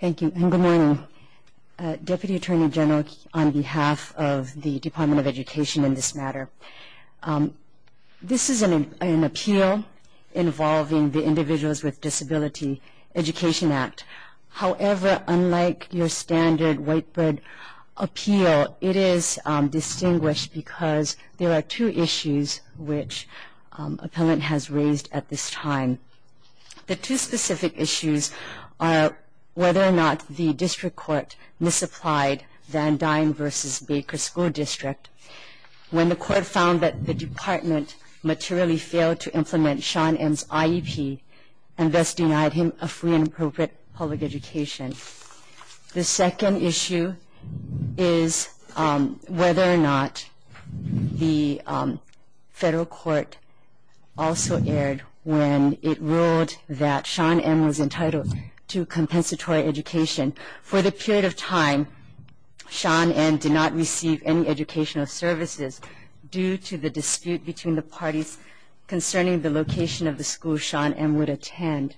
Thank you, and good morning, Deputy Attorney General on behalf of the Department of Education in this matter. This is an appeal involving the Individuals with Disabilities Education Act. However, unlike your standard whiteboard appeal, it is distinguished because there are two issues which Appellant has raised at this time. The two specific issues are whether or not the District Court misapplied Van Dyne v. Baker School District when the Court found that the Department materially failed to implement Sean M.'s IEP and thus denied him a free and appropriate public education. The second issue is whether or not the Federal Court also erred when it ruled that Sean M. was entitled to compensatory education. For the period of time, Sean M. did not receive any educational services due to the dispute between the parties concerning the location of the school Sean M. would attend.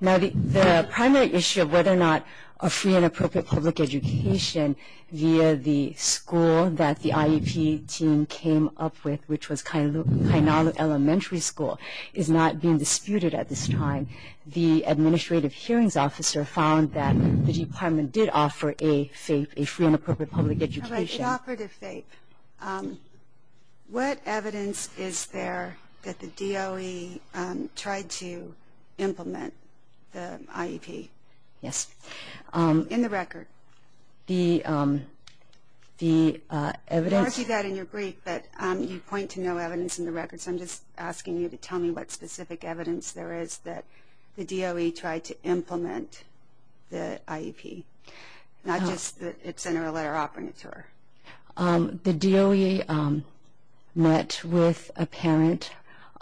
Now, the primary issue of whether or not a free and appropriate public education via the school that the IEP team came up with, which was Kainalu Elementary School, is not being disputed at this time. The Administrative Hearings Officer found that the Department did offer a FAPE, a free and appropriate public education. All right, it offered a FAPE. What evidence is there that the DOE tried to implement the IEP? Yes. In the record. The evidence... You argue that in your brief, but you point to no evidence in the record, so I'm just asking you to tell me what specific evidence there is that the DOE tried to implement the IEP. Not just that it's an earlier operator. The DOE met with a parent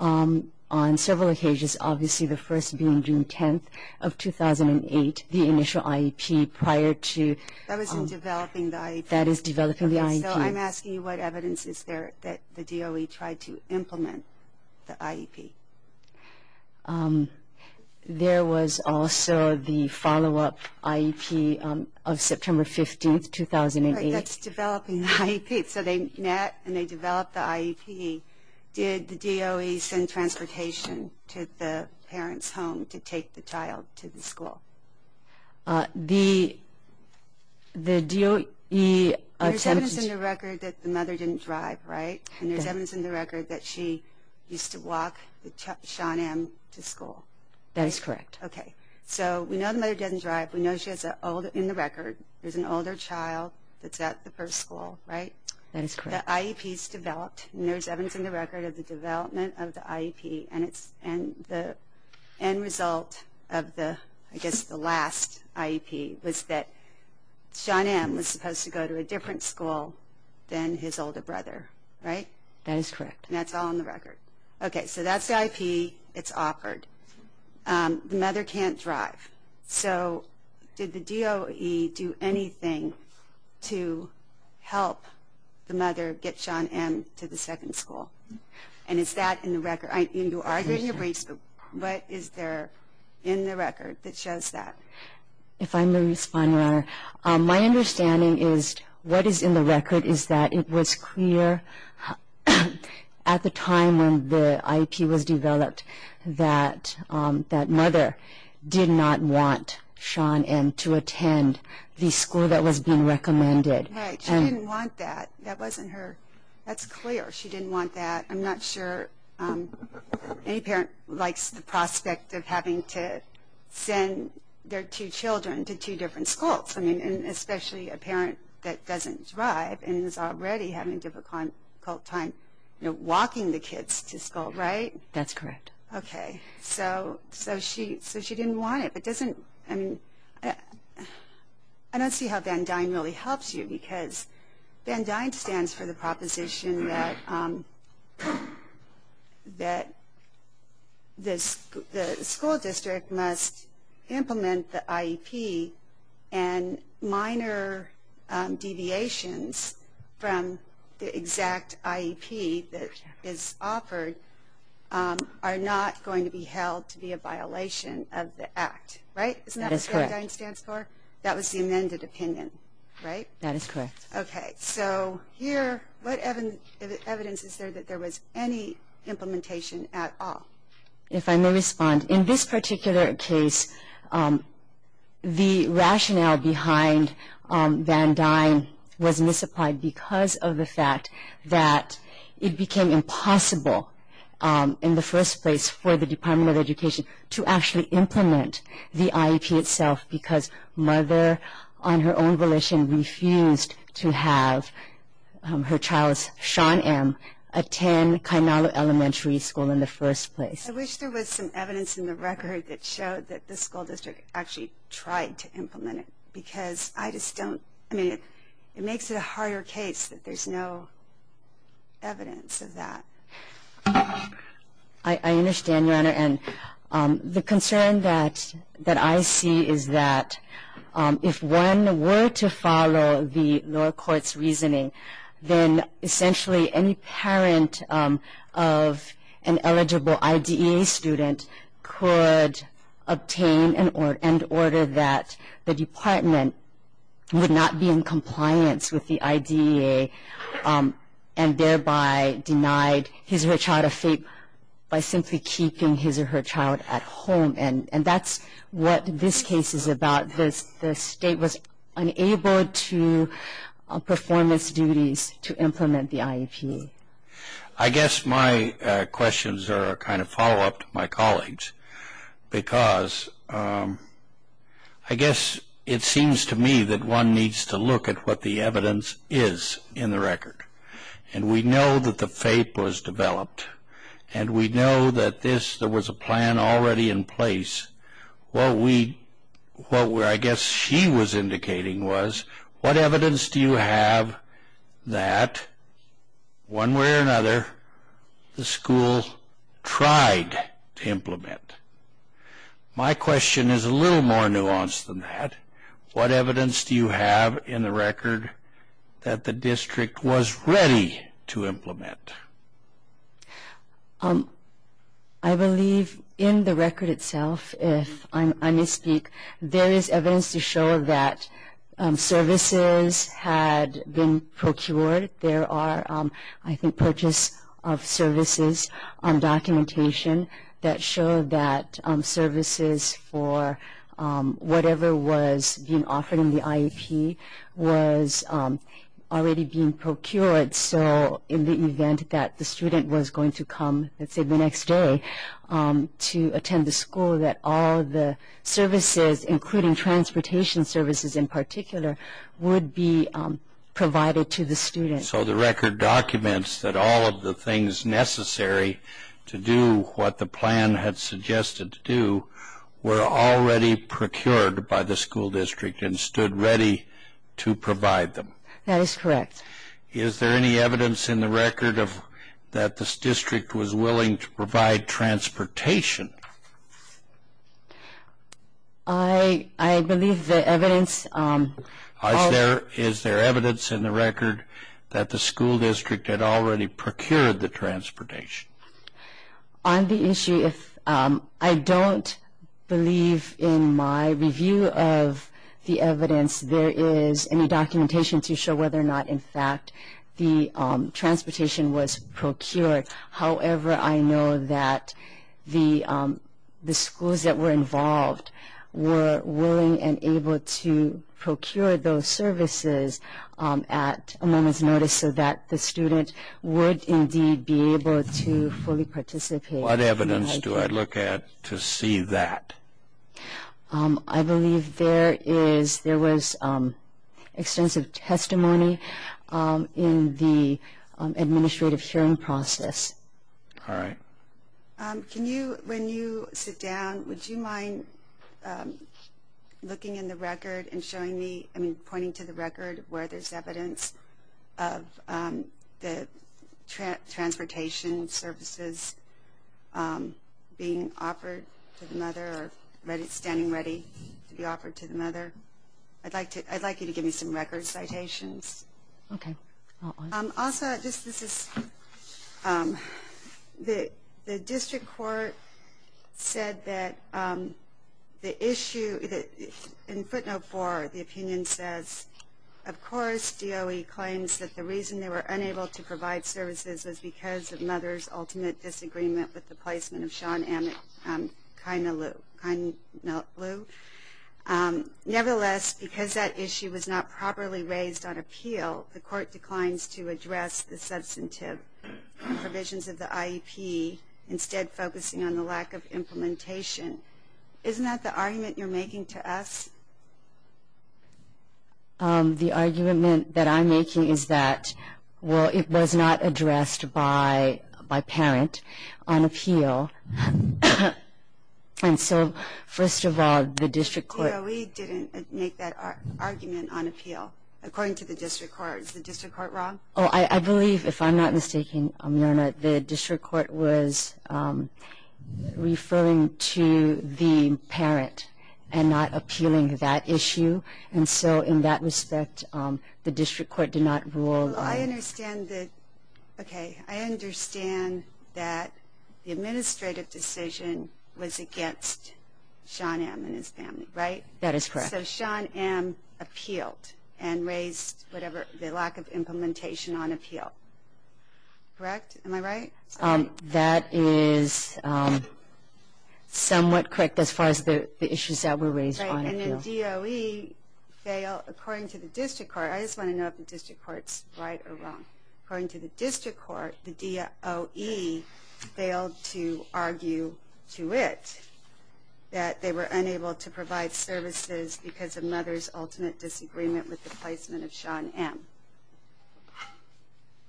on several occasions, obviously the first being June 10th of 2008, the initial IEP prior to... That was in developing the IEP. That is developing the IEP. So I'm asking you what evidence is there that the DOE tried to implement the IEP. There was also the follow-up IEP of September 15th, 2008. Right, that's developing the IEP. So they met and they developed the IEP. Did the DOE send transportation to the parent's home to take the child to the school? The DOE attempted... There's evidence in the record that the mother didn't drive, right? And there's evidence in the record that she used to walk Sean M. to school. That is correct. Okay. So we know the mother didn't drive, we know she has an older... In the record, there's an older child that's at the first school, right? That is correct. The IEP's developed, and there's evidence in the record of the development of the IEP and the end result of the, I guess, the last IEP, was that Sean M. was supposed to go to a different school than his older brother, right? That is correct. And that's all in the record. Okay, so that's the IEP. It's offered. The mother can't drive. So did the DOE do anything to help the mother get Sean M. to the second school? And is that in the record? You are doing your research, but is there in the record that shows that? If I may respond, Your Honor, my understanding is what is in the record is that it was clear at the time when the IEP was developed that that mother did not want Sean M. to attend the school that was being recommended. Right. She didn't want that. That wasn't her. That's clear. She didn't want that. I'm not sure any parent likes the prospect of having to send their two children to two different schools, especially a parent that doesn't drive and is already having a difficult time walking the kids to school, right? That's correct. Okay. So she didn't want it. I don't see how Van Dine really helps you because Van Dine stands for the proposition that the school district must implement the IEP and minor deviations from the exact IEP that is offered are not going to be held to be a violation of the act, right? Isn't that what Van Dine stands for? That is correct. That was the amended opinion, right? That is correct. Okay. So here, what evidence is there that there was any implementation at all? If I may respond, in this particular case, the rationale behind Van Dine was misapplied because of the fact that it became impossible in the first place for the Department of Education to actually implement the IEP itself because Mother, on her own volition, refused to have her child, Sean M., attend Kainalu Elementary School in the first place. I wish there was some evidence in the record that showed that the school district actually tried to implement it because I just don't, I mean, it makes it a harder case that there's no evidence of that. I understand, Your Honor, and the concern that I see is that if one were to follow the lower court's reasoning, then essentially any parent of an eligible IDEA student could obtain and order that the department would not be in compliance with the IDEA and thereby denied his or her child a fate by simply keeping his or her child at home. And that's what this case is about. The state was unable to perform its duties to implement the IEP. I guess my questions are a kind of follow-up to my colleagues because I guess it seems to me that one needs to look at what the evidence is in the record. And we know that the fate was developed, and we know that there was a plan already in place. What I guess she was indicating was, what evidence do you have that, one way or another, the school tried to implement? My question is a little more nuanced than that. What evidence do you have in the record that the district was ready to implement? I believe in the record itself, if I may speak, there is evidence to show that services had been procured. There are, I think, purchase of services documentation that show that services for whatever was being offered in the IEP was already being procured. So in the event that the student was going to come, let's say, the next day to attend the school, that all the services, including transportation services in particular, would be provided to the student. So the record documents that all of the things necessary to do what the plan had suggested to do were already procured by the school district and stood ready to provide them. That is correct. Is there any evidence in the record that the district was willing to provide transportation? I believe the evidence... Is there evidence in the record that the school district had already procured the transportation? On the issue, I don't believe in my review of the evidence there is any documentation to show whether or not, in fact, the transportation was procured. However, I know that the schools that were involved were willing and able to procure those services at a moment's notice so that the student would indeed be able to fully participate in the IEP. What evidence do I look at to see that? I believe there was extensive testimony in the administrative hearing process. All right. When you sit down, would you mind pointing to the record where there is evidence of the transportation services being offered to the mother or standing ready to be offered to the mother? I'd like you to give me some record citations. Okay. Also, the district court said that the issue... In footnote 4, the opinion says, Of course, DOE claims that the reason they were unable to provide services was because of mother's ultimate disagreement with the placement of Sean Emmett Kainalu. Nevertheless, because that issue was not properly raised on appeal, the court declines to address the substantive provisions of the IEP, instead focusing on the lack of implementation. Isn't that the argument you're making to us? The argument that I'm making is that, well, it was not addressed by parent on appeal. And so, first of all, the district court... DOE didn't make that argument on appeal, according to the district court. Is the district court wrong? Oh, I believe, if I'm not mistaken, Your Honor, the district court was referring to the parent and not appealing that issue. And so, in that respect, the district court did not rule on... Well, I understand that... Okay, I understand that the administrative decision was against Sean Emmett and his family, right? That is correct. So Sean Emmett appealed and raised the lack of implementation on appeal. Correct? Am I right? That is somewhat correct, as far as the issues that were raised on appeal. Right, and then DOE failed, according to the district court. I just want to know if the district court's right or wrong. According to the district court, the DOE failed to argue to it that they were unable to provide services because of mother's ultimate disagreement with the placement of Sean Emmett.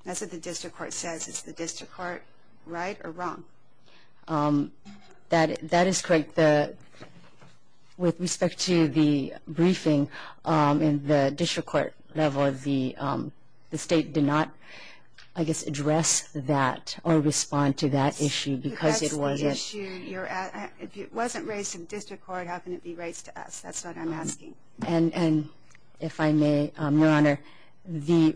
That's what the district court says. Is the district court right or wrong? That is correct. With respect to the briefing, in the district court level, the state did not, I guess, address that or respond to that issue because it was... If it wasn't raised in district court, how can it be raised to us? That's what I'm asking. If I may, Your Honor, the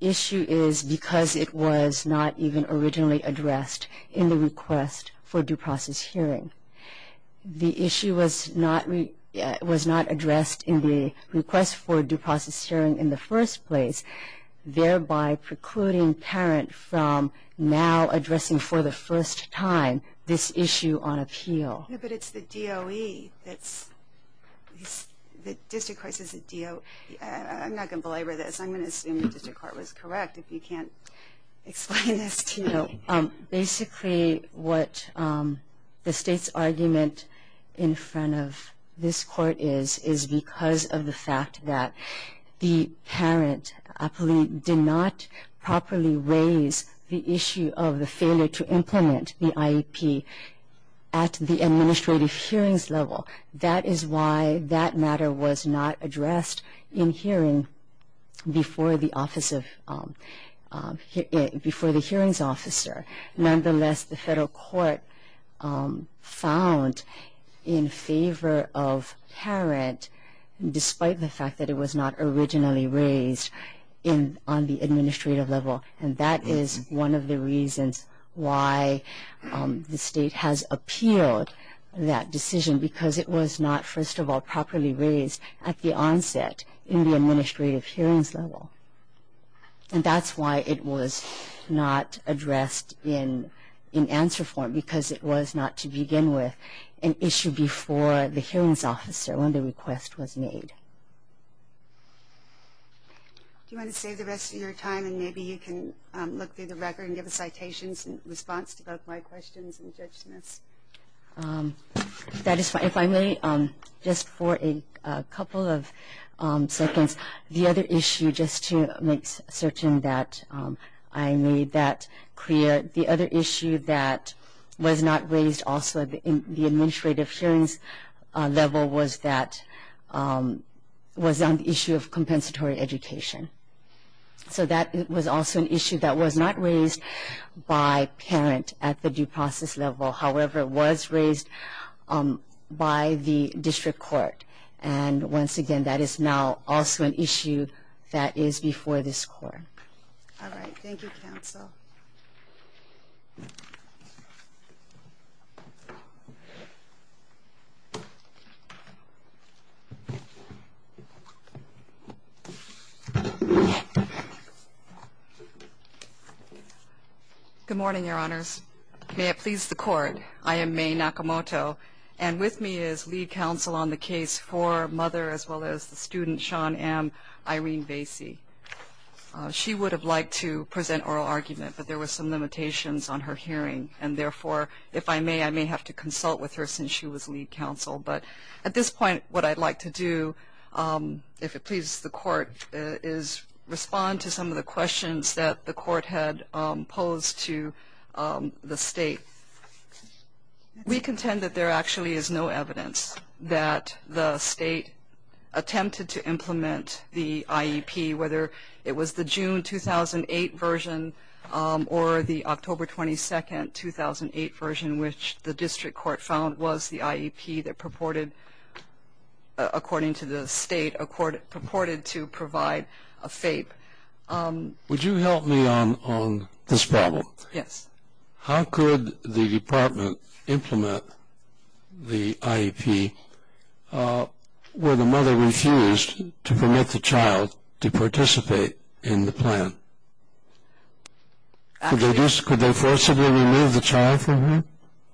issue is because it was not even originally addressed in the request for due process hearing. The issue was not addressed in the request for due process hearing in the first place, thereby precluding parent from now addressing for the first time this issue on appeal. But it's the DOE that's... The district court says the DOE... I'm not going to belabor this. I'm going to assume the district court was correct, if you can't explain this to me. Basically, what the state's argument in front of this court is, is because of the fact that the parent did not properly raise the issue of the failure to implement the IEP at the administrative hearings level. That is why that matter was not addressed in hearing before the hearings officer. Nonetheless, the federal court found in favor of parent, despite the fact that it was not originally raised on the administrative level, and that is one of the reasons why the state has appealed that decision, because it was not, first of all, properly raised at the onset in the administrative hearings level. And that's why it was not addressed in answer form, because it was not, to begin with, an issue before the hearings officer when the request was made. Do you want to save the rest of your time, and maybe you can look through the record and give a citations response to both my questions and Judge Smith's? That is fine. If I may, just for a couple of seconds, the other issue, just to make certain that I made that clear, the other issue that was not raised also at the administrative hearings level was that, was on the issue of compensatory education. So that was also an issue that was not raised by parent at the due process level. However, it was raised by the district court. And once again, that is now also an issue that is before this court. All right. Thank you, counsel. Good morning, Your Honors. May it please the court, I am May Nakamoto, and with me is lead counsel on the case for mother as well as the student, Sean M. Irene Bassey. She would have liked to present oral argument, but there were some limitations on her hearing. And therefore, if I may, I may have to consult with her since she was lead counsel. But at this point, what I'd like to do, if it pleases the court, is respond to some of the questions that the court had posed to the state. We contend that there actually is no evidence that the state attempted to implement the IEP, whether it was the June 2008 version or the October 22, 2008 version, which the district court found was the IEP that purported, according to the state, purported to provide a FAPE. Would you help me on this problem? Yes. How could the department implement the IEP where the mother refused to permit the child to participate in the plan? Could they forcibly remove the child from there?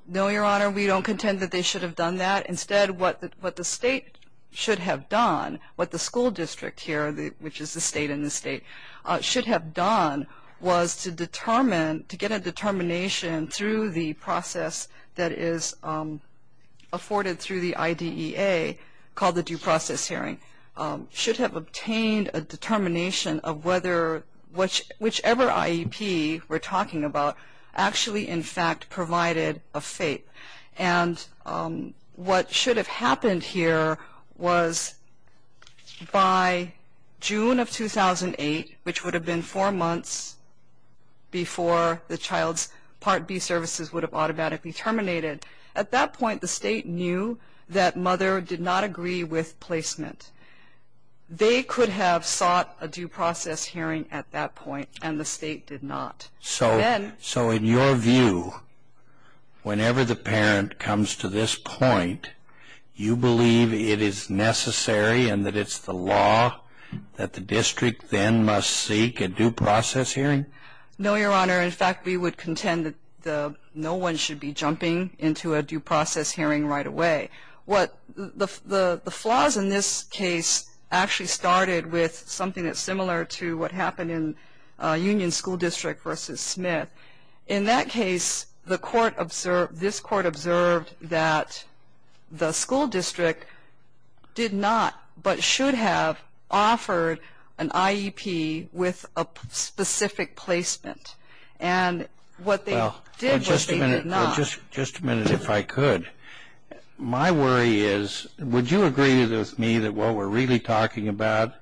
No, Your Honor, we don't contend that they should have done that. Instead, what the state should have done, what the school district here, which is the state in the state, should have done was to determine, to get a determination through the process that is afforded through the IDEA, called the due process hearing, should have obtained a determination of whether whichever IEP we're talking about actually, in fact, provided a FAPE. And what should have happened here was by June of 2008, which would have been four months before the child's Part B services would have automatically terminated, at that point the state knew that mother did not agree with placement. They could have sought a due process hearing at that point, and the state did not. So in your view, whenever the parent comes to this point, you believe it is necessary and that it's the law that the district then must seek a due process hearing? No, Your Honor. In fact, we would contend that no one should be jumping into a due process hearing right away. The flaws in this case actually started with something that's similar to what happened in Union School District v. Smith. In that case, this court observed that the school district did not but should have offered an IEP with a specific placement. And what they did was they did not. Just a minute if I could. My worry is, would you agree with me that what we're really talking about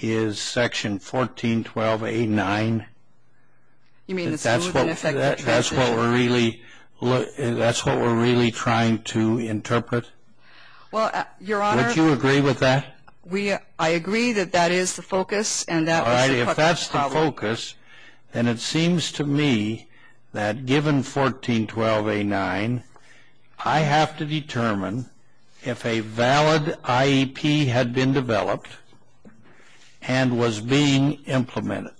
is Section 1412A9? You mean the smooth and effective transition? That's what we're really trying to interpret. Well, Your Honor. Would you agree with that? I agree that that is the focus, and that was the focus of the problem. All right. If that's the focus, then it seems to me that given 1412A9, I have to determine if a valid IEP had been developed and was being implemented.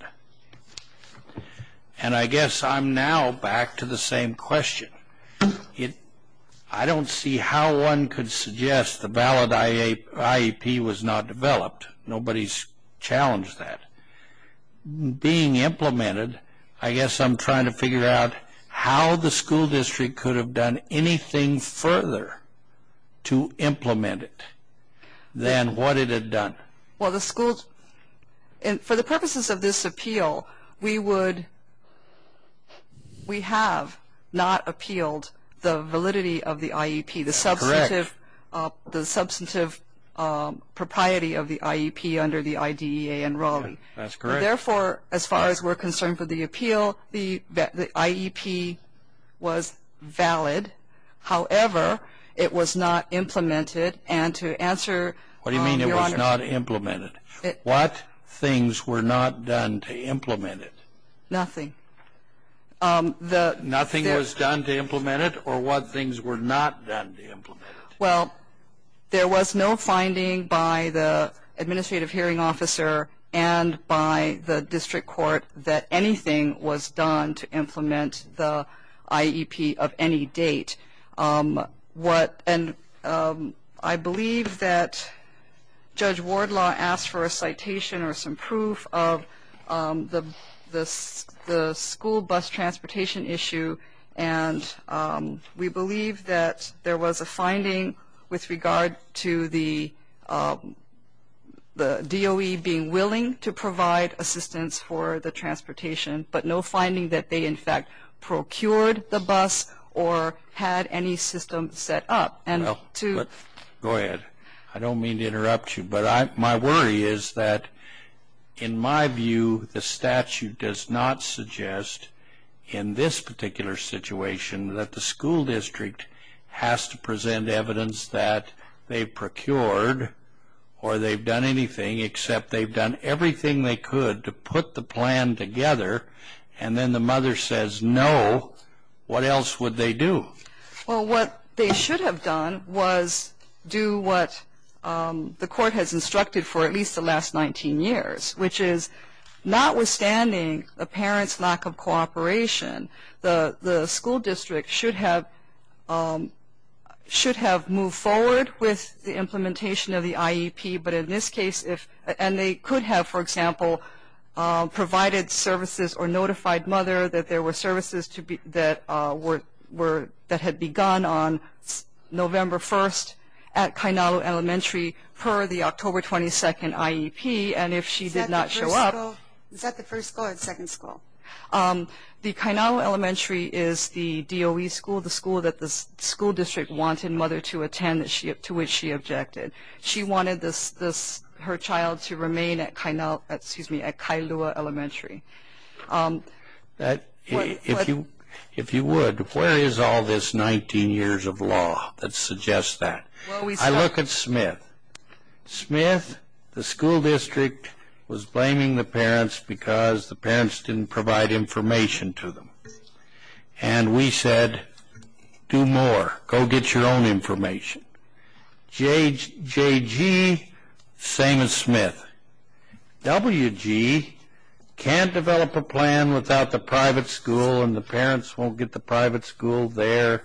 And I guess I'm now back to the same question. I don't see how one could suggest the valid IEP was not developed. Nobody's challenged that. Being implemented, I guess I'm trying to figure out how the school district could have done anything further to implement it than what it had done. Well, for the purposes of this appeal, we have not appealed the validity of the IEP, the substantive propriety of the IEP under the IDEA and Raleigh. That's correct. Therefore, as far as we're concerned for the appeal, the IEP was valid. However, it was not implemented, and to answer, Your Honor. What do you mean it was not implemented? What things were not done to implement it? Nothing. Nothing was done to implement it? Or what things were not done to implement it? Well, there was no finding by the administrative hearing officer and by the district court that anything was done to implement the IEP of any date. And I believe that Judge Wardlaw asked for a citation or some proof of the school bus transportation issue, and we believe that there was a finding with regard to the DOE being willing to provide assistance for the transportation, but no finding that they, in fact, procured the bus or had any system set up. Go ahead. I don't mean to interrupt you, but my worry is that, in my view, the statute does not suggest in this particular situation that the school district has to present evidence that they procured or they've done anything except they've done everything they could to put the plan together and then the mother says no, what else would they do? Well, what they should have done was do what the court has instructed for at least the last 19 years, which is notwithstanding a parent's lack of cooperation, the school district should have moved forward with the implementation of the IEP, but in this case, and they could have, for example, provided services or notified mother that there were services that had begun on November 1st at Kainalu Elementary per the October 22nd IEP, and if she did not show up. Is that the first school or the second school? The Kainalu Elementary is the DOE school, the school that the school district wanted mother to attend to which she objected. She wanted her child to remain at Kailua Elementary. If you would, where is all this 19 years of law that suggests that? I look at Smith. Smith, the school district was blaming the parents because the parents didn't provide information to them, and we said do more, go get your own information. JG, same as Smith. WG can't develop a plan without the private school, and the parents won't get the private school there,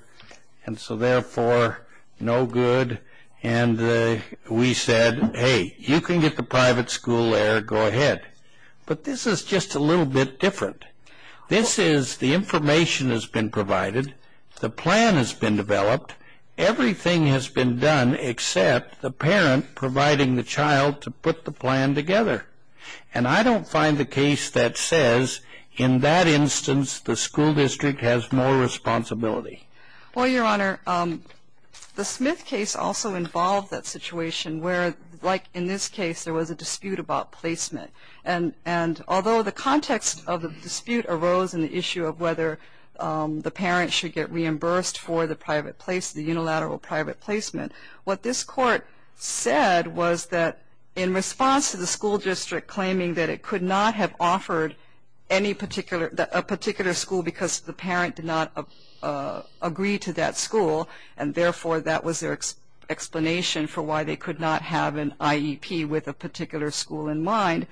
and so therefore no good, and we said, hey, you can get the private school there, go ahead. But this is just a little bit different. This is the information has been provided, the plan has been developed, everything has been done except the parent providing the child to put the plan together, and I don't find the case that says in that instance the school district has more responsibility. Well, Your Honor, the Smith case also involved that situation where, like in this case, there was a dispute about placement, and although the context of the dispute arose in the issue of whether the parent should get reimbursed for the unilateral private placement, what this court said was that in response to the school district claiming that it could not have offered a particular school because the parent did not agree to that school, and therefore that was their explanation for why they could not have an IEP with a particular school in mind,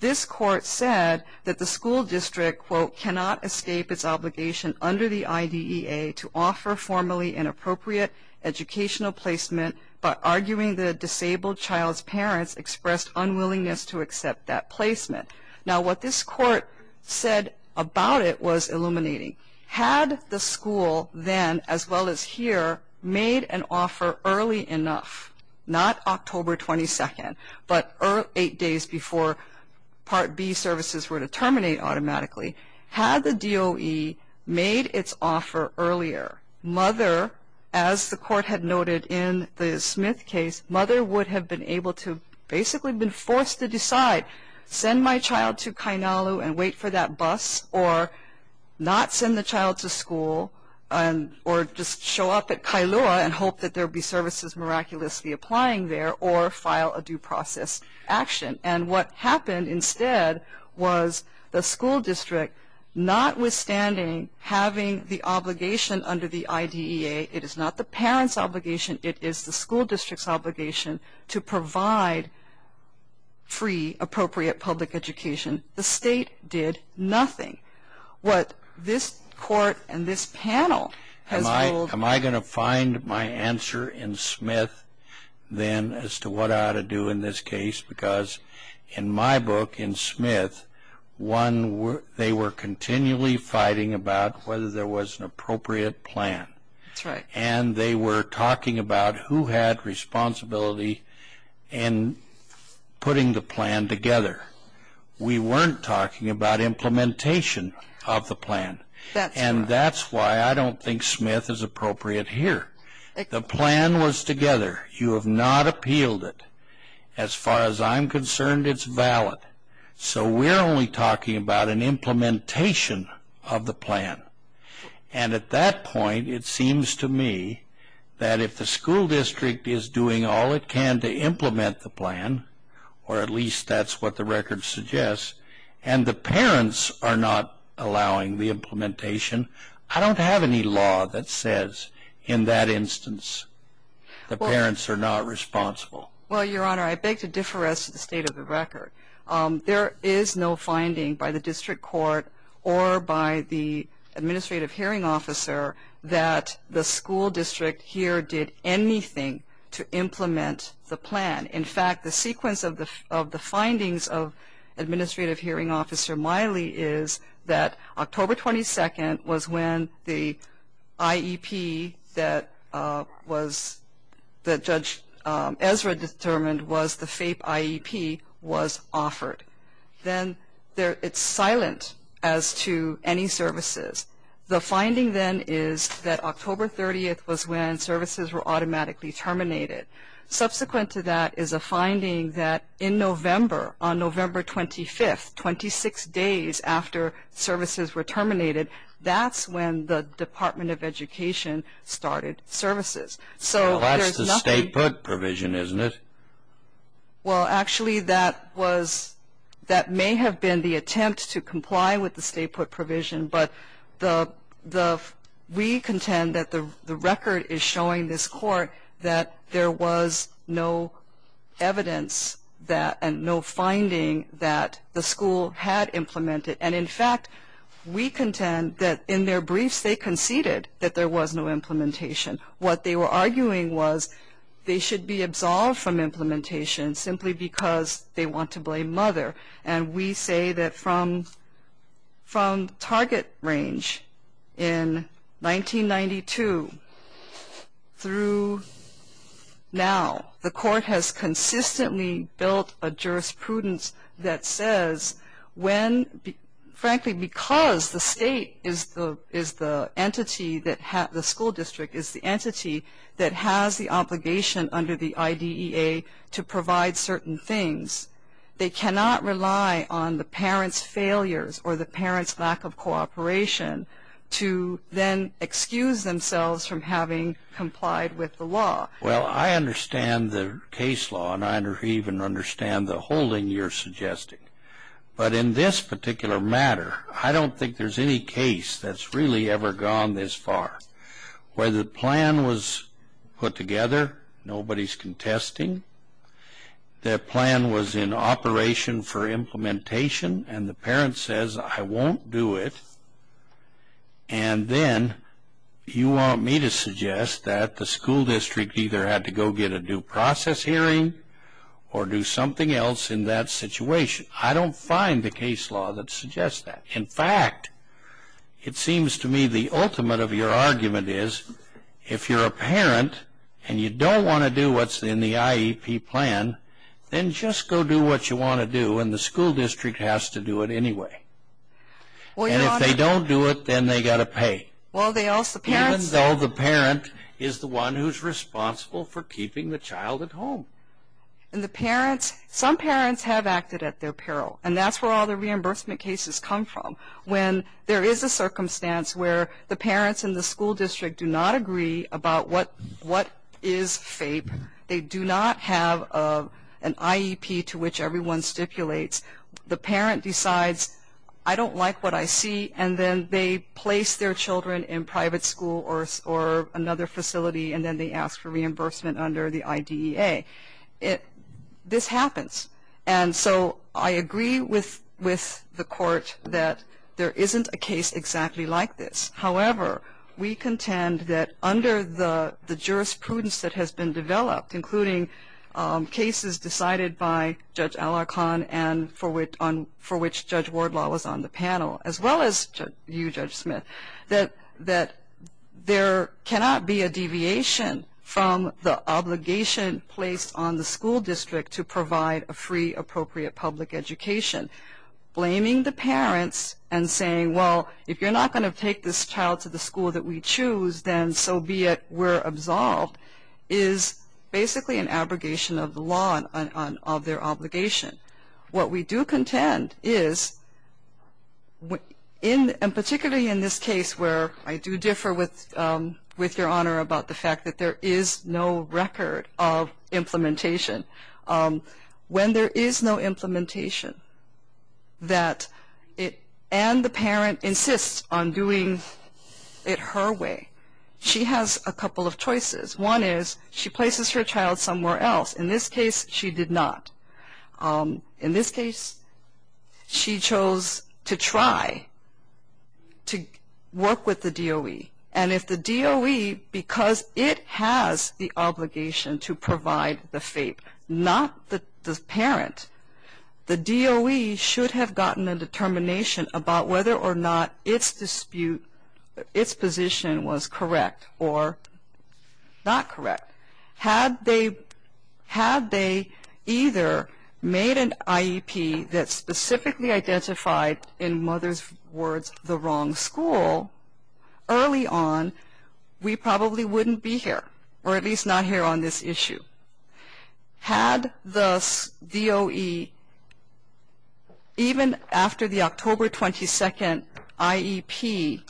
this court said that the school district, quote, cannot escape its obligation under the IDEA to offer formally inappropriate educational placement by arguing the disabled child's parents expressed unwillingness to accept that placement. Now, what this court said about it was illuminating. Had the school then, as well as here, made an offer early enough, not October 22nd, but eight days before Part B services were to terminate automatically, had the DOE made its offer earlier, mother, as the court had noted in the Smith case, mother would have been able to basically have been forced to decide, send my child to Kainalu and wait for that bus or not send the child to school or just show up at Kailua and hope that there would be services miraculously applying there or file a due process action. And what happened instead was the school district, notwithstanding having the obligation under the IDEA, it is not the parent's obligation, it is the school district's obligation to provide free appropriate public education, the state did nothing. What this court and this panel has ruled. Am I going to find my answer in Smith then as to what I ought to do in this case? Because in my book, in Smith, they were continually fighting about whether there was an appropriate plan. And they were talking about who had responsibility in putting the plan together. We weren't talking about implementation of the plan. And that's why I don't think Smith is appropriate here. The plan was together. You have not appealed it. As far as I'm concerned, it's valid. So we're only talking about an implementation of the plan. And at that point, it seems to me that if the school district is doing all it can to implement the plan, or at least that's what the record suggests, and the parents are not allowing the implementation, I don't have any law that says in that instance the parents are not responsible. Well, Your Honor, I beg to differ as to the state of the record. There is no finding by the district court or by the administrative hearing officer that the school district here did anything to implement the plan. In fact, the sequence of the findings of administrative hearing officer Miley is that October 22nd was when the IEP that Judge Ezra determined was the FAPE IEP was offered. Then it's silent as to any services. The finding then is that October 30th was when services were automatically terminated. Subsequent to that is a finding that in November, on November 25th, 26 days after services were terminated, that's when the Department of Education started services. Well, that's the state put provision, isn't it? Well, actually, that may have been the attempt to comply with the state put provision, but we contend that the record is showing this court that there was no evidence that and no finding that the school had implemented. And, in fact, we contend that in their briefs they conceded that there was no implementation. What they were arguing was they should be absolved from implementation simply because they want to blame mother. And we say that from target range in 1992 through now, the court has consistently built a jurisprudence that says when, frankly, because the state is the entity, the school district is the entity that has the obligation under the IDEA to provide certain things, they cannot rely on the parents' failures or the parents' lack of cooperation to then excuse themselves from having complied with the law. Well, I understand the case law, and I even understand the holding you're suggesting. But in this particular matter, I don't think there's any case that's really ever gone this far. Whether the plan was put together, nobody's contesting. The plan was in operation for implementation, and the parent says, I won't do it. And then you want me to suggest that the school district either had to go get a due process hearing or do something else in that situation. I don't find the case law that suggests that. In fact, it seems to me the ultimate of your argument is if you're a parent and you don't want to do what's in the IEP plan, then just go do what you want to do, and the school district has to do it anyway. And if they don't do it, then they've got to pay. Even though the parent is the one who's responsible for keeping the child at home. Some parents have acted at their peril, and that's where all the reimbursement cases come from. When there is a circumstance where the parents in the school district do not agree about what is FAPE, they do not have an IEP to which everyone stipulates, the parent decides, I don't like what I see, and then they place their children in private school or another facility, and then they ask for reimbursement under the IDEA. This happens. And so I agree with the court that there isn't a case exactly like this. However, we contend that under the jurisprudence that has been developed, including cases decided by Judge Alarcon and for which Judge Wardlaw was on the panel, as well as you, Judge Smith, that there cannot be a deviation from the obligation placed on the school district to provide a free, appropriate public education. Blaming the parents and saying, well, if you're not going to take this child to the school that we choose, then so be it, we're absolved, is basically an abrogation of the law of their obligation. What we do contend is, and particularly in this case where I do differ with your Honor about the fact that there is no record of implementation, when there is no implementation, and the parent insists on doing it her way, she has a couple of choices. One is she places her child somewhere else. In this case, she did not. In this case, she chose to try to work with the DOE. And if the DOE, because it has the obligation to provide the FAPE, not the parent, the DOE should have gotten a determination about whether or not its position was correct or not correct. Had they either made an IEP that specifically identified, in mother's words, the wrong school, early on, we probably wouldn't be here, or at least not here on this issue. Had the DOE, even after the October 22nd IEP,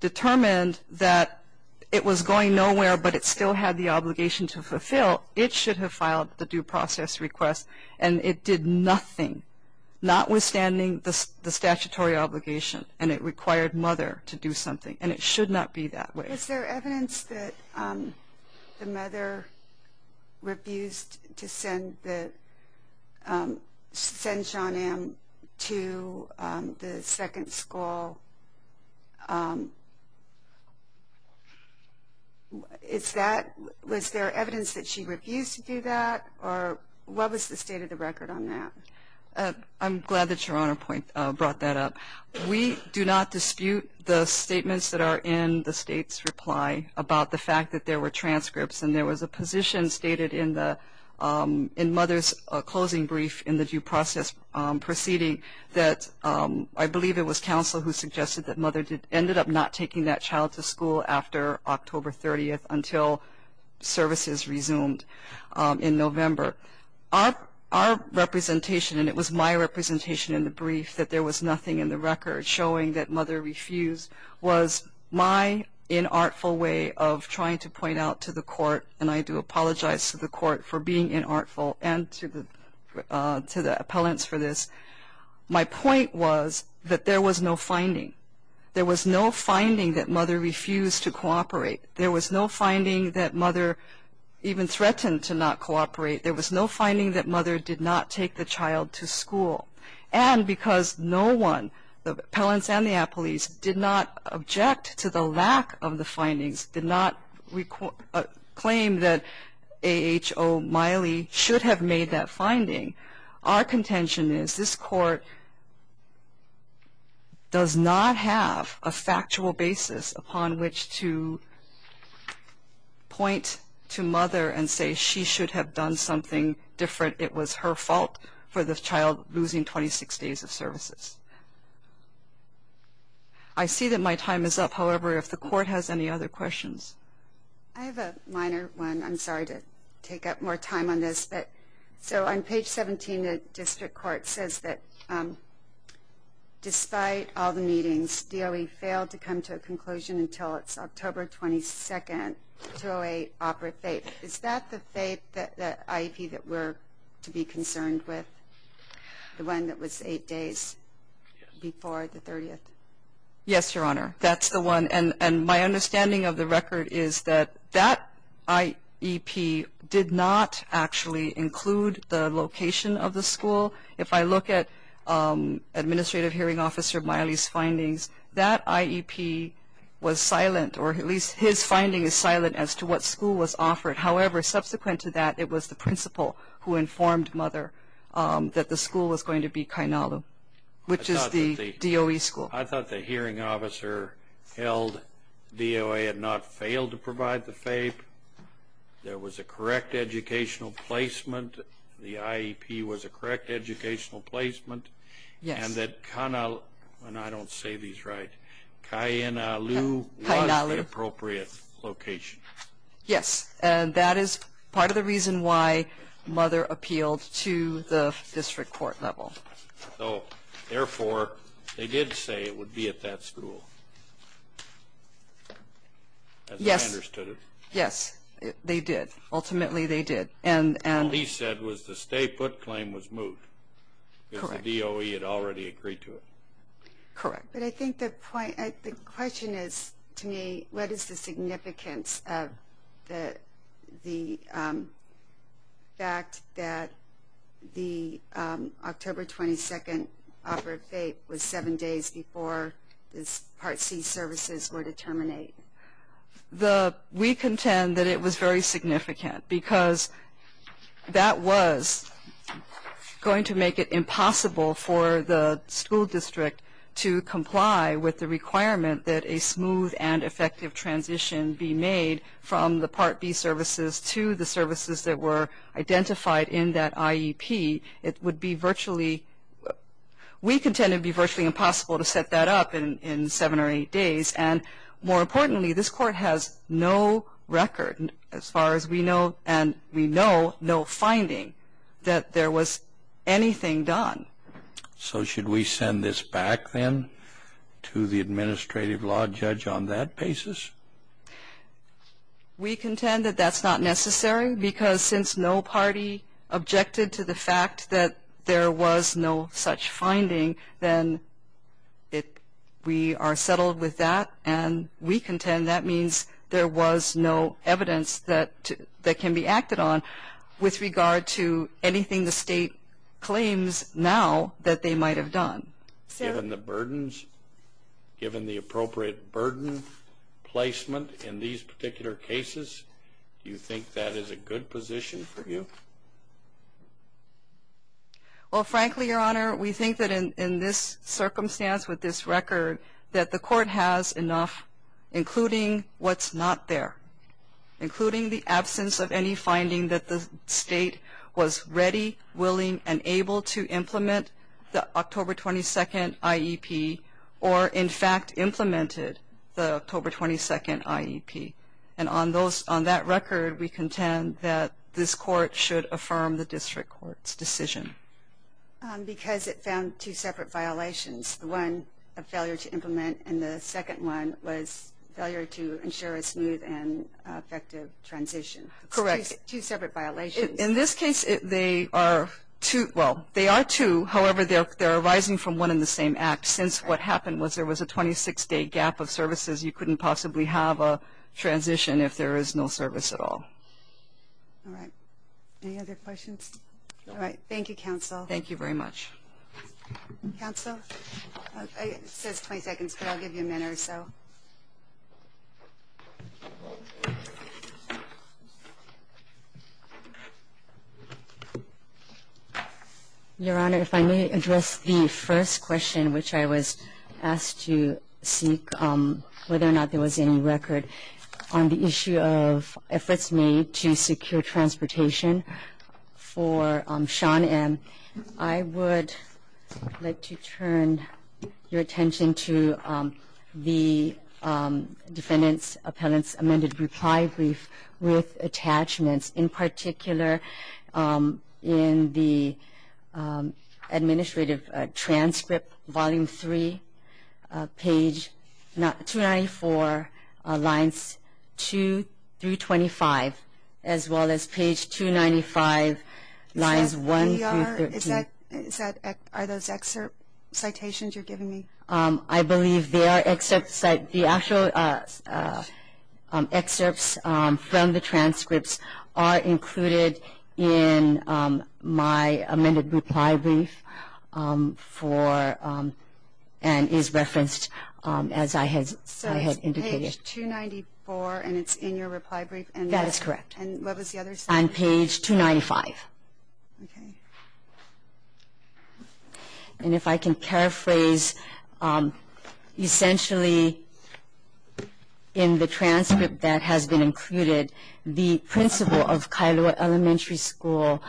determined that it was going nowhere, but it still had the obligation to fulfill, it should have filed the due process request, and it did nothing, notwithstanding the statutory obligation, and it required mother to do something, and it should not be that way. Was there evidence that the mother refused to send Sean M. to the second school? Was there evidence that she refused to do that, or what was the state of the record on that? I'm glad that Your Honor brought that up. We do not dispute the statements that are in the state's reply about the fact that there were transcripts, and there was a position stated in mother's closing brief in the due process proceeding that I believe it was counsel who suggested that mother ended up not taking that child to school after October 30th until services resumed in November. Our representation, and it was my representation in the brief, that there was nothing in the record showing that mother refused, was my inartful way of trying to point out to the court, and I do apologize to the court for being inartful and to the appellants for this. My point was that there was no finding. There was no finding that mother refused to cooperate. There was no finding that mother even threatened to not cooperate. There was no finding that mother did not take the child to school. And because no one, the appellants and the appellees, did not object to the lack of the findings, did not claim that A. H. O. Miley should have made that finding, our contention is this Court does not have a factual basis upon which to point to mother and say she should have done something different. It was her fault for the child losing 26 days of services. I see that my time is up. However, if the Court has any other questions. I have a minor one. I'm sorry to take up more time on this. So on page 17, the District Court says that despite all the meetings, DOE failed to come to a conclusion until it's October 22nd, 2008. Is that the IEP that we're to be concerned with? The one that was eight days before the 30th? Yes, Your Honor. That's the one. And my understanding of the record is that that IEP did not actually include the location of the school. If I look at Administrative Hearing Officer Miley's findings, that IEP was silent, or at least his finding is silent as to what school was offered. However, subsequent to that, it was the principal who informed mother that the school was going to be Kainalu, which is the DOE school. I thought the hearing officer held DOE had not failed to provide the FAPE. There was a correct educational placement. The IEP was a correct educational placement. Yes. And that Kainalu, and I don't say these right, Kainalu was the appropriate location. Yes. And that is part of the reason why mother appealed to the District Court level. So, therefore, they did say it would be at that school. Yes. As I understood it. Yes. They did. Ultimately, they did. All he said was the stay put claim was moved. Correct. Because the DOE had already agreed to it. Correct. But I think the question is, to me, what is the significance of the fact that the October 22nd offer of FAPE was seven days before the Part C services were to terminate? We contend that it was very significant, because that was going to make it impossible for the school district to comply with the requirement that a smooth and effective transition be made from the Part B services to the services that were identified in that IEP. It would be virtually, we contend it would be virtually impossible to set that up in seven or eight days. And more importantly, this Court has no record, as far as we know, and we know no finding that there was anything done. So should we send this back, then, to the administrative law judge on that basis? We contend that that's not necessary, because since no party objected to the fact that there was no such finding, then we are settled with that. And we contend that means there was no evidence that can be acted on with regard to anything the State claims now that they might have done. Given the burdens, given the appropriate burden placement in these particular cases, do you think that is a good position for you? Well, frankly, Your Honor, we think that in this circumstance, with this record, that the Court has enough, including what's not there, including the absence of any finding that the State was ready, willing, and able to implement the October 22nd IEP, or, in fact, implemented the October 22nd IEP. And on that record, we contend that this Court should affirm the district court's decision. Because it found two separate violations. One, a failure to implement, and the second one was failure to ensure a smooth and effective transition. Correct. Two separate violations. In this case, they are two. Well, they are two. However, they are arising from one and the same act. Since what happened was there was a 26-day gap of services. You couldn't possibly have a transition if there is no service at all. All right. Any other questions? All right. Thank you, Counsel. Thank you very much. Counsel? It says 20 seconds, but I'll give you a minute or so. Your Honor, if I may address the first question, which I was asked to seek whether or not there was any record on the issue of efforts made to secure transportation for Sean M. I would like to turn your attention to the application that was submitted by the State Defendant's Appellant's Amended Reply Brief with attachments, in particular in the administrative transcript, Volume 3, Page 294, Lines 2 through 25, as well as Page 295, Lines 1 through 13. Are those excerpt citations you're giving me? I believe they are excerpts. The actual excerpts from the transcripts are included in my amended reply brief and is referenced as I had indicated. So it's Page 294 and it's in your reply brief? That is correct. And what was the other section? On Page 295. Okay. And if I can paraphrase, essentially in the transcript that has been included, the principal of Kailua Elementary School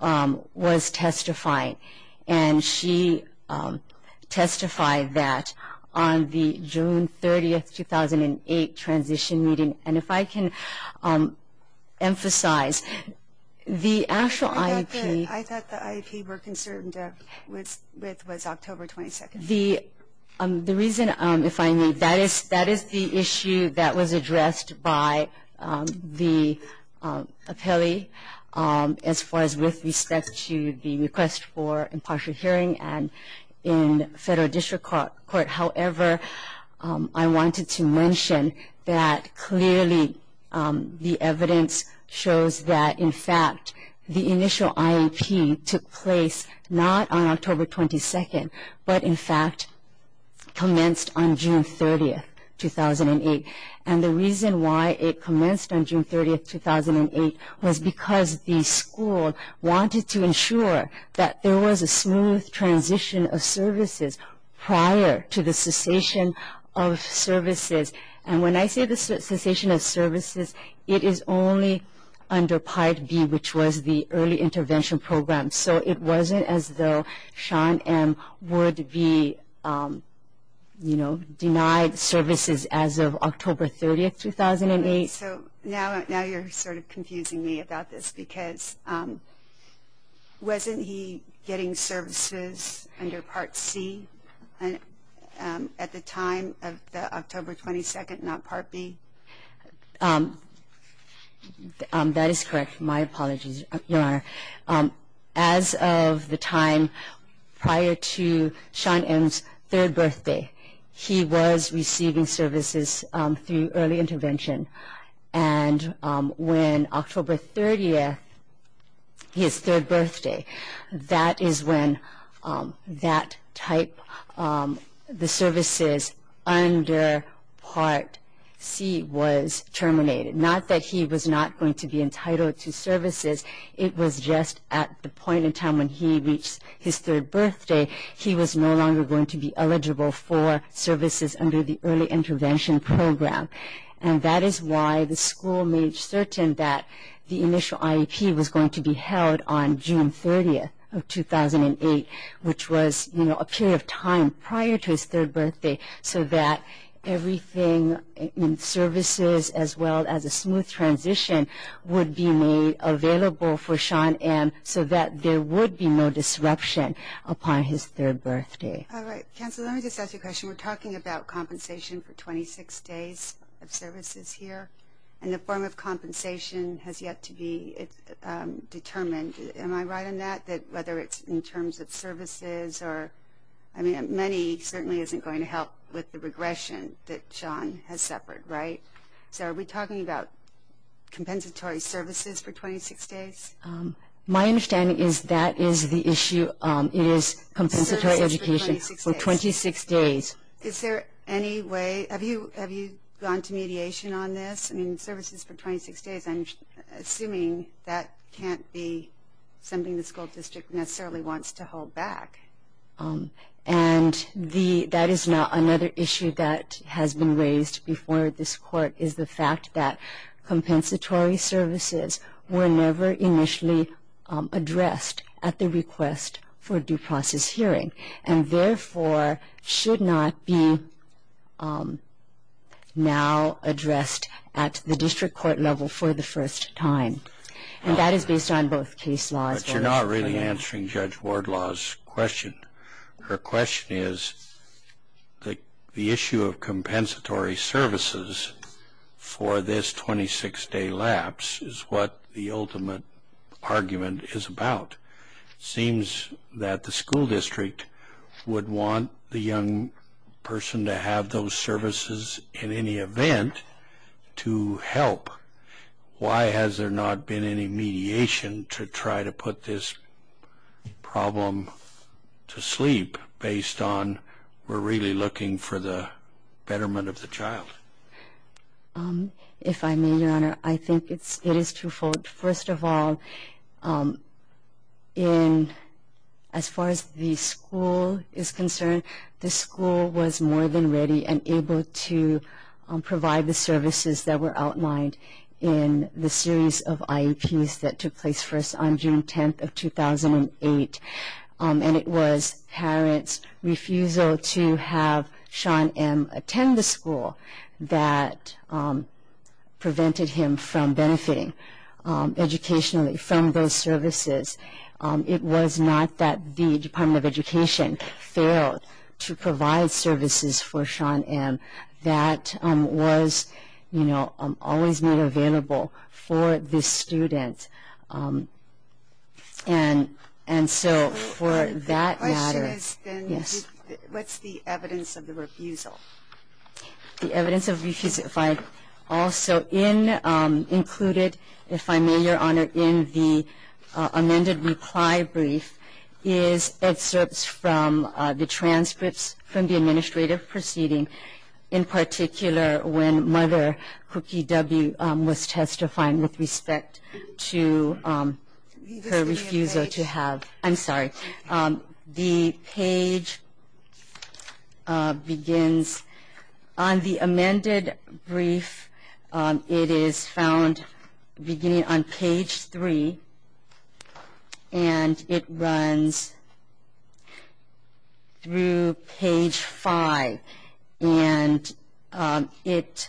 was testifying, and she testified that on the June 30, 2008, transition meeting. And if I can emphasize, the actual IEP. I thought the IEP we're concerned with was October 22. The reason, if I may, that is the issue that was addressed by the appellee, as far as with respect to the request for impartial hearing in federal district court. However, I wanted to mention that clearly the evidence shows that, in fact, the initial IEP took place not on October 22, but, in fact, commenced on June 30, 2008. And the reason why it commenced on June 30, 2008 was because the school wanted to ensure that there was a smooth transition of services prior to the cessation of services. And when I say the cessation of services, it is only under Part B, which was the early intervention program. So it wasn't as though Sean M. would be, you know, denied services as of October 30, 2008. So now you're sort of confusing me about this, because wasn't he getting services under Part C at the time of the October 22, not Part B? That is correct. My apologies, Your Honor. As of the time prior to Sean M.'s third birthday, he was receiving services through early intervention. And when October 30, his third birthday, that is when that type, the services under Part C, was terminated. Not that he was not going to be entitled to services. It was just at the point in time when he reached his third birthday, he was no longer going to be eligible for services under the early intervention program. And that is why the school made certain that the initial IEP was going to be held on June 30, 2008, which was, you know, a period of time prior to his third birthday, so that everything in services as well as a smooth transition would be made available for Sean M. so that there would be no disruption upon his third birthday. All right. Counsel, let me just ask you a question. We're talking about compensation for 26 days of services here, and the form of compensation has yet to be determined. Am I right on that, that whether it's in terms of services or, I mean, money certainly isn't going to help with the regression that Sean has suffered, right? So are we talking about compensatory services for 26 days? My understanding is that is the issue. It is compensatory education for 26 days. Is there any way? Have you gone to mediation on this? I mean, services for 26 days, I'm assuming that can't be something the school district necessarily wants to hold back. And that is another issue that has been raised before this court, is the fact that compensatory services were never initially addressed at the request for due process hearing, and therefore should not be now addressed at the district court level for the first time. And that is based on both case laws. But you're not really answering Judge Wardlaw's question. Her question is the issue of compensatory services for this 26-day lapse is what the ultimate argument is about. It seems that the school district would want the young person to have those services in any event to help. Why has there not been any mediation to try to put this problem to sleep based on we're really looking for the betterment of the child? If I may, Your Honor, I think it is twofold. First of all, as far as the school is concerned, the school was more than ready and able to provide the services that were outlined in the series of IEPs that took place for us on June 10th of 2008. And it was parents' refusal to have Sean M. attend the school that prevented him from benefiting educationally from those services. It was not that the Department of Education failed to provide services for Sean M. That was, you know, always made available for the student. And so for that matter... My question is, then, what's the evidence of the refusal? The evidence of refusal... Also included, if I may, Your Honor, in the amended reply brief is excerpts from the transcripts from the administrative proceeding, in particular when Mother Cookie W. was testifying with respect to her refusal to have... On the amended brief, it is found beginning on page 3, and it runs through page 5. And it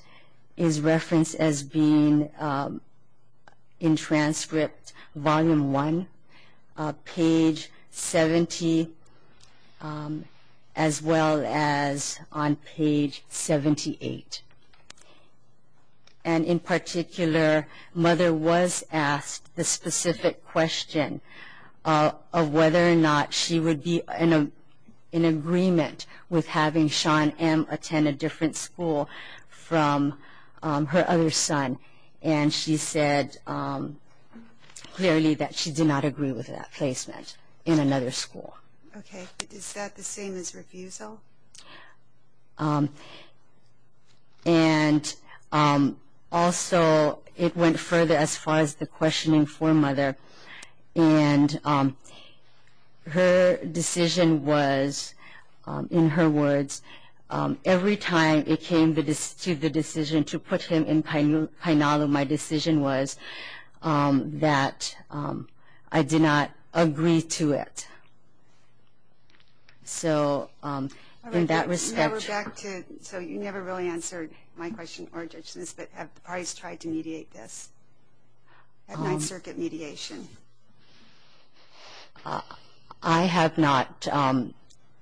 is referenced as being in transcript volume 1, page 70, as well as on page 78. And in particular, Mother was asked the specific question of whether or not she would be in agreement with having Sean M. attend a different school from her other son. And she said clearly that she did not agree with that placement in another school. Okay. Is that the same as refusal? And also, it went further as far as the questioning for Mother. And her decision was, in her words, every time it came to the decision to put him in Kainalu, my decision was that I did not agree to it. So in that respect... All right. So you never really answered my question or Judge Smith's, but have the parties tried to mediate this at Ninth Circuit mediation? I have not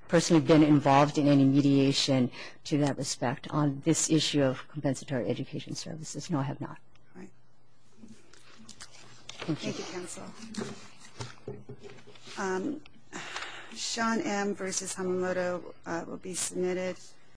personally been involved in any mediation to that respect on this issue of compensatory education services. No, I have not. Thank you. Thank you, counsel. Sean M. v. Hamamoto will be submitted.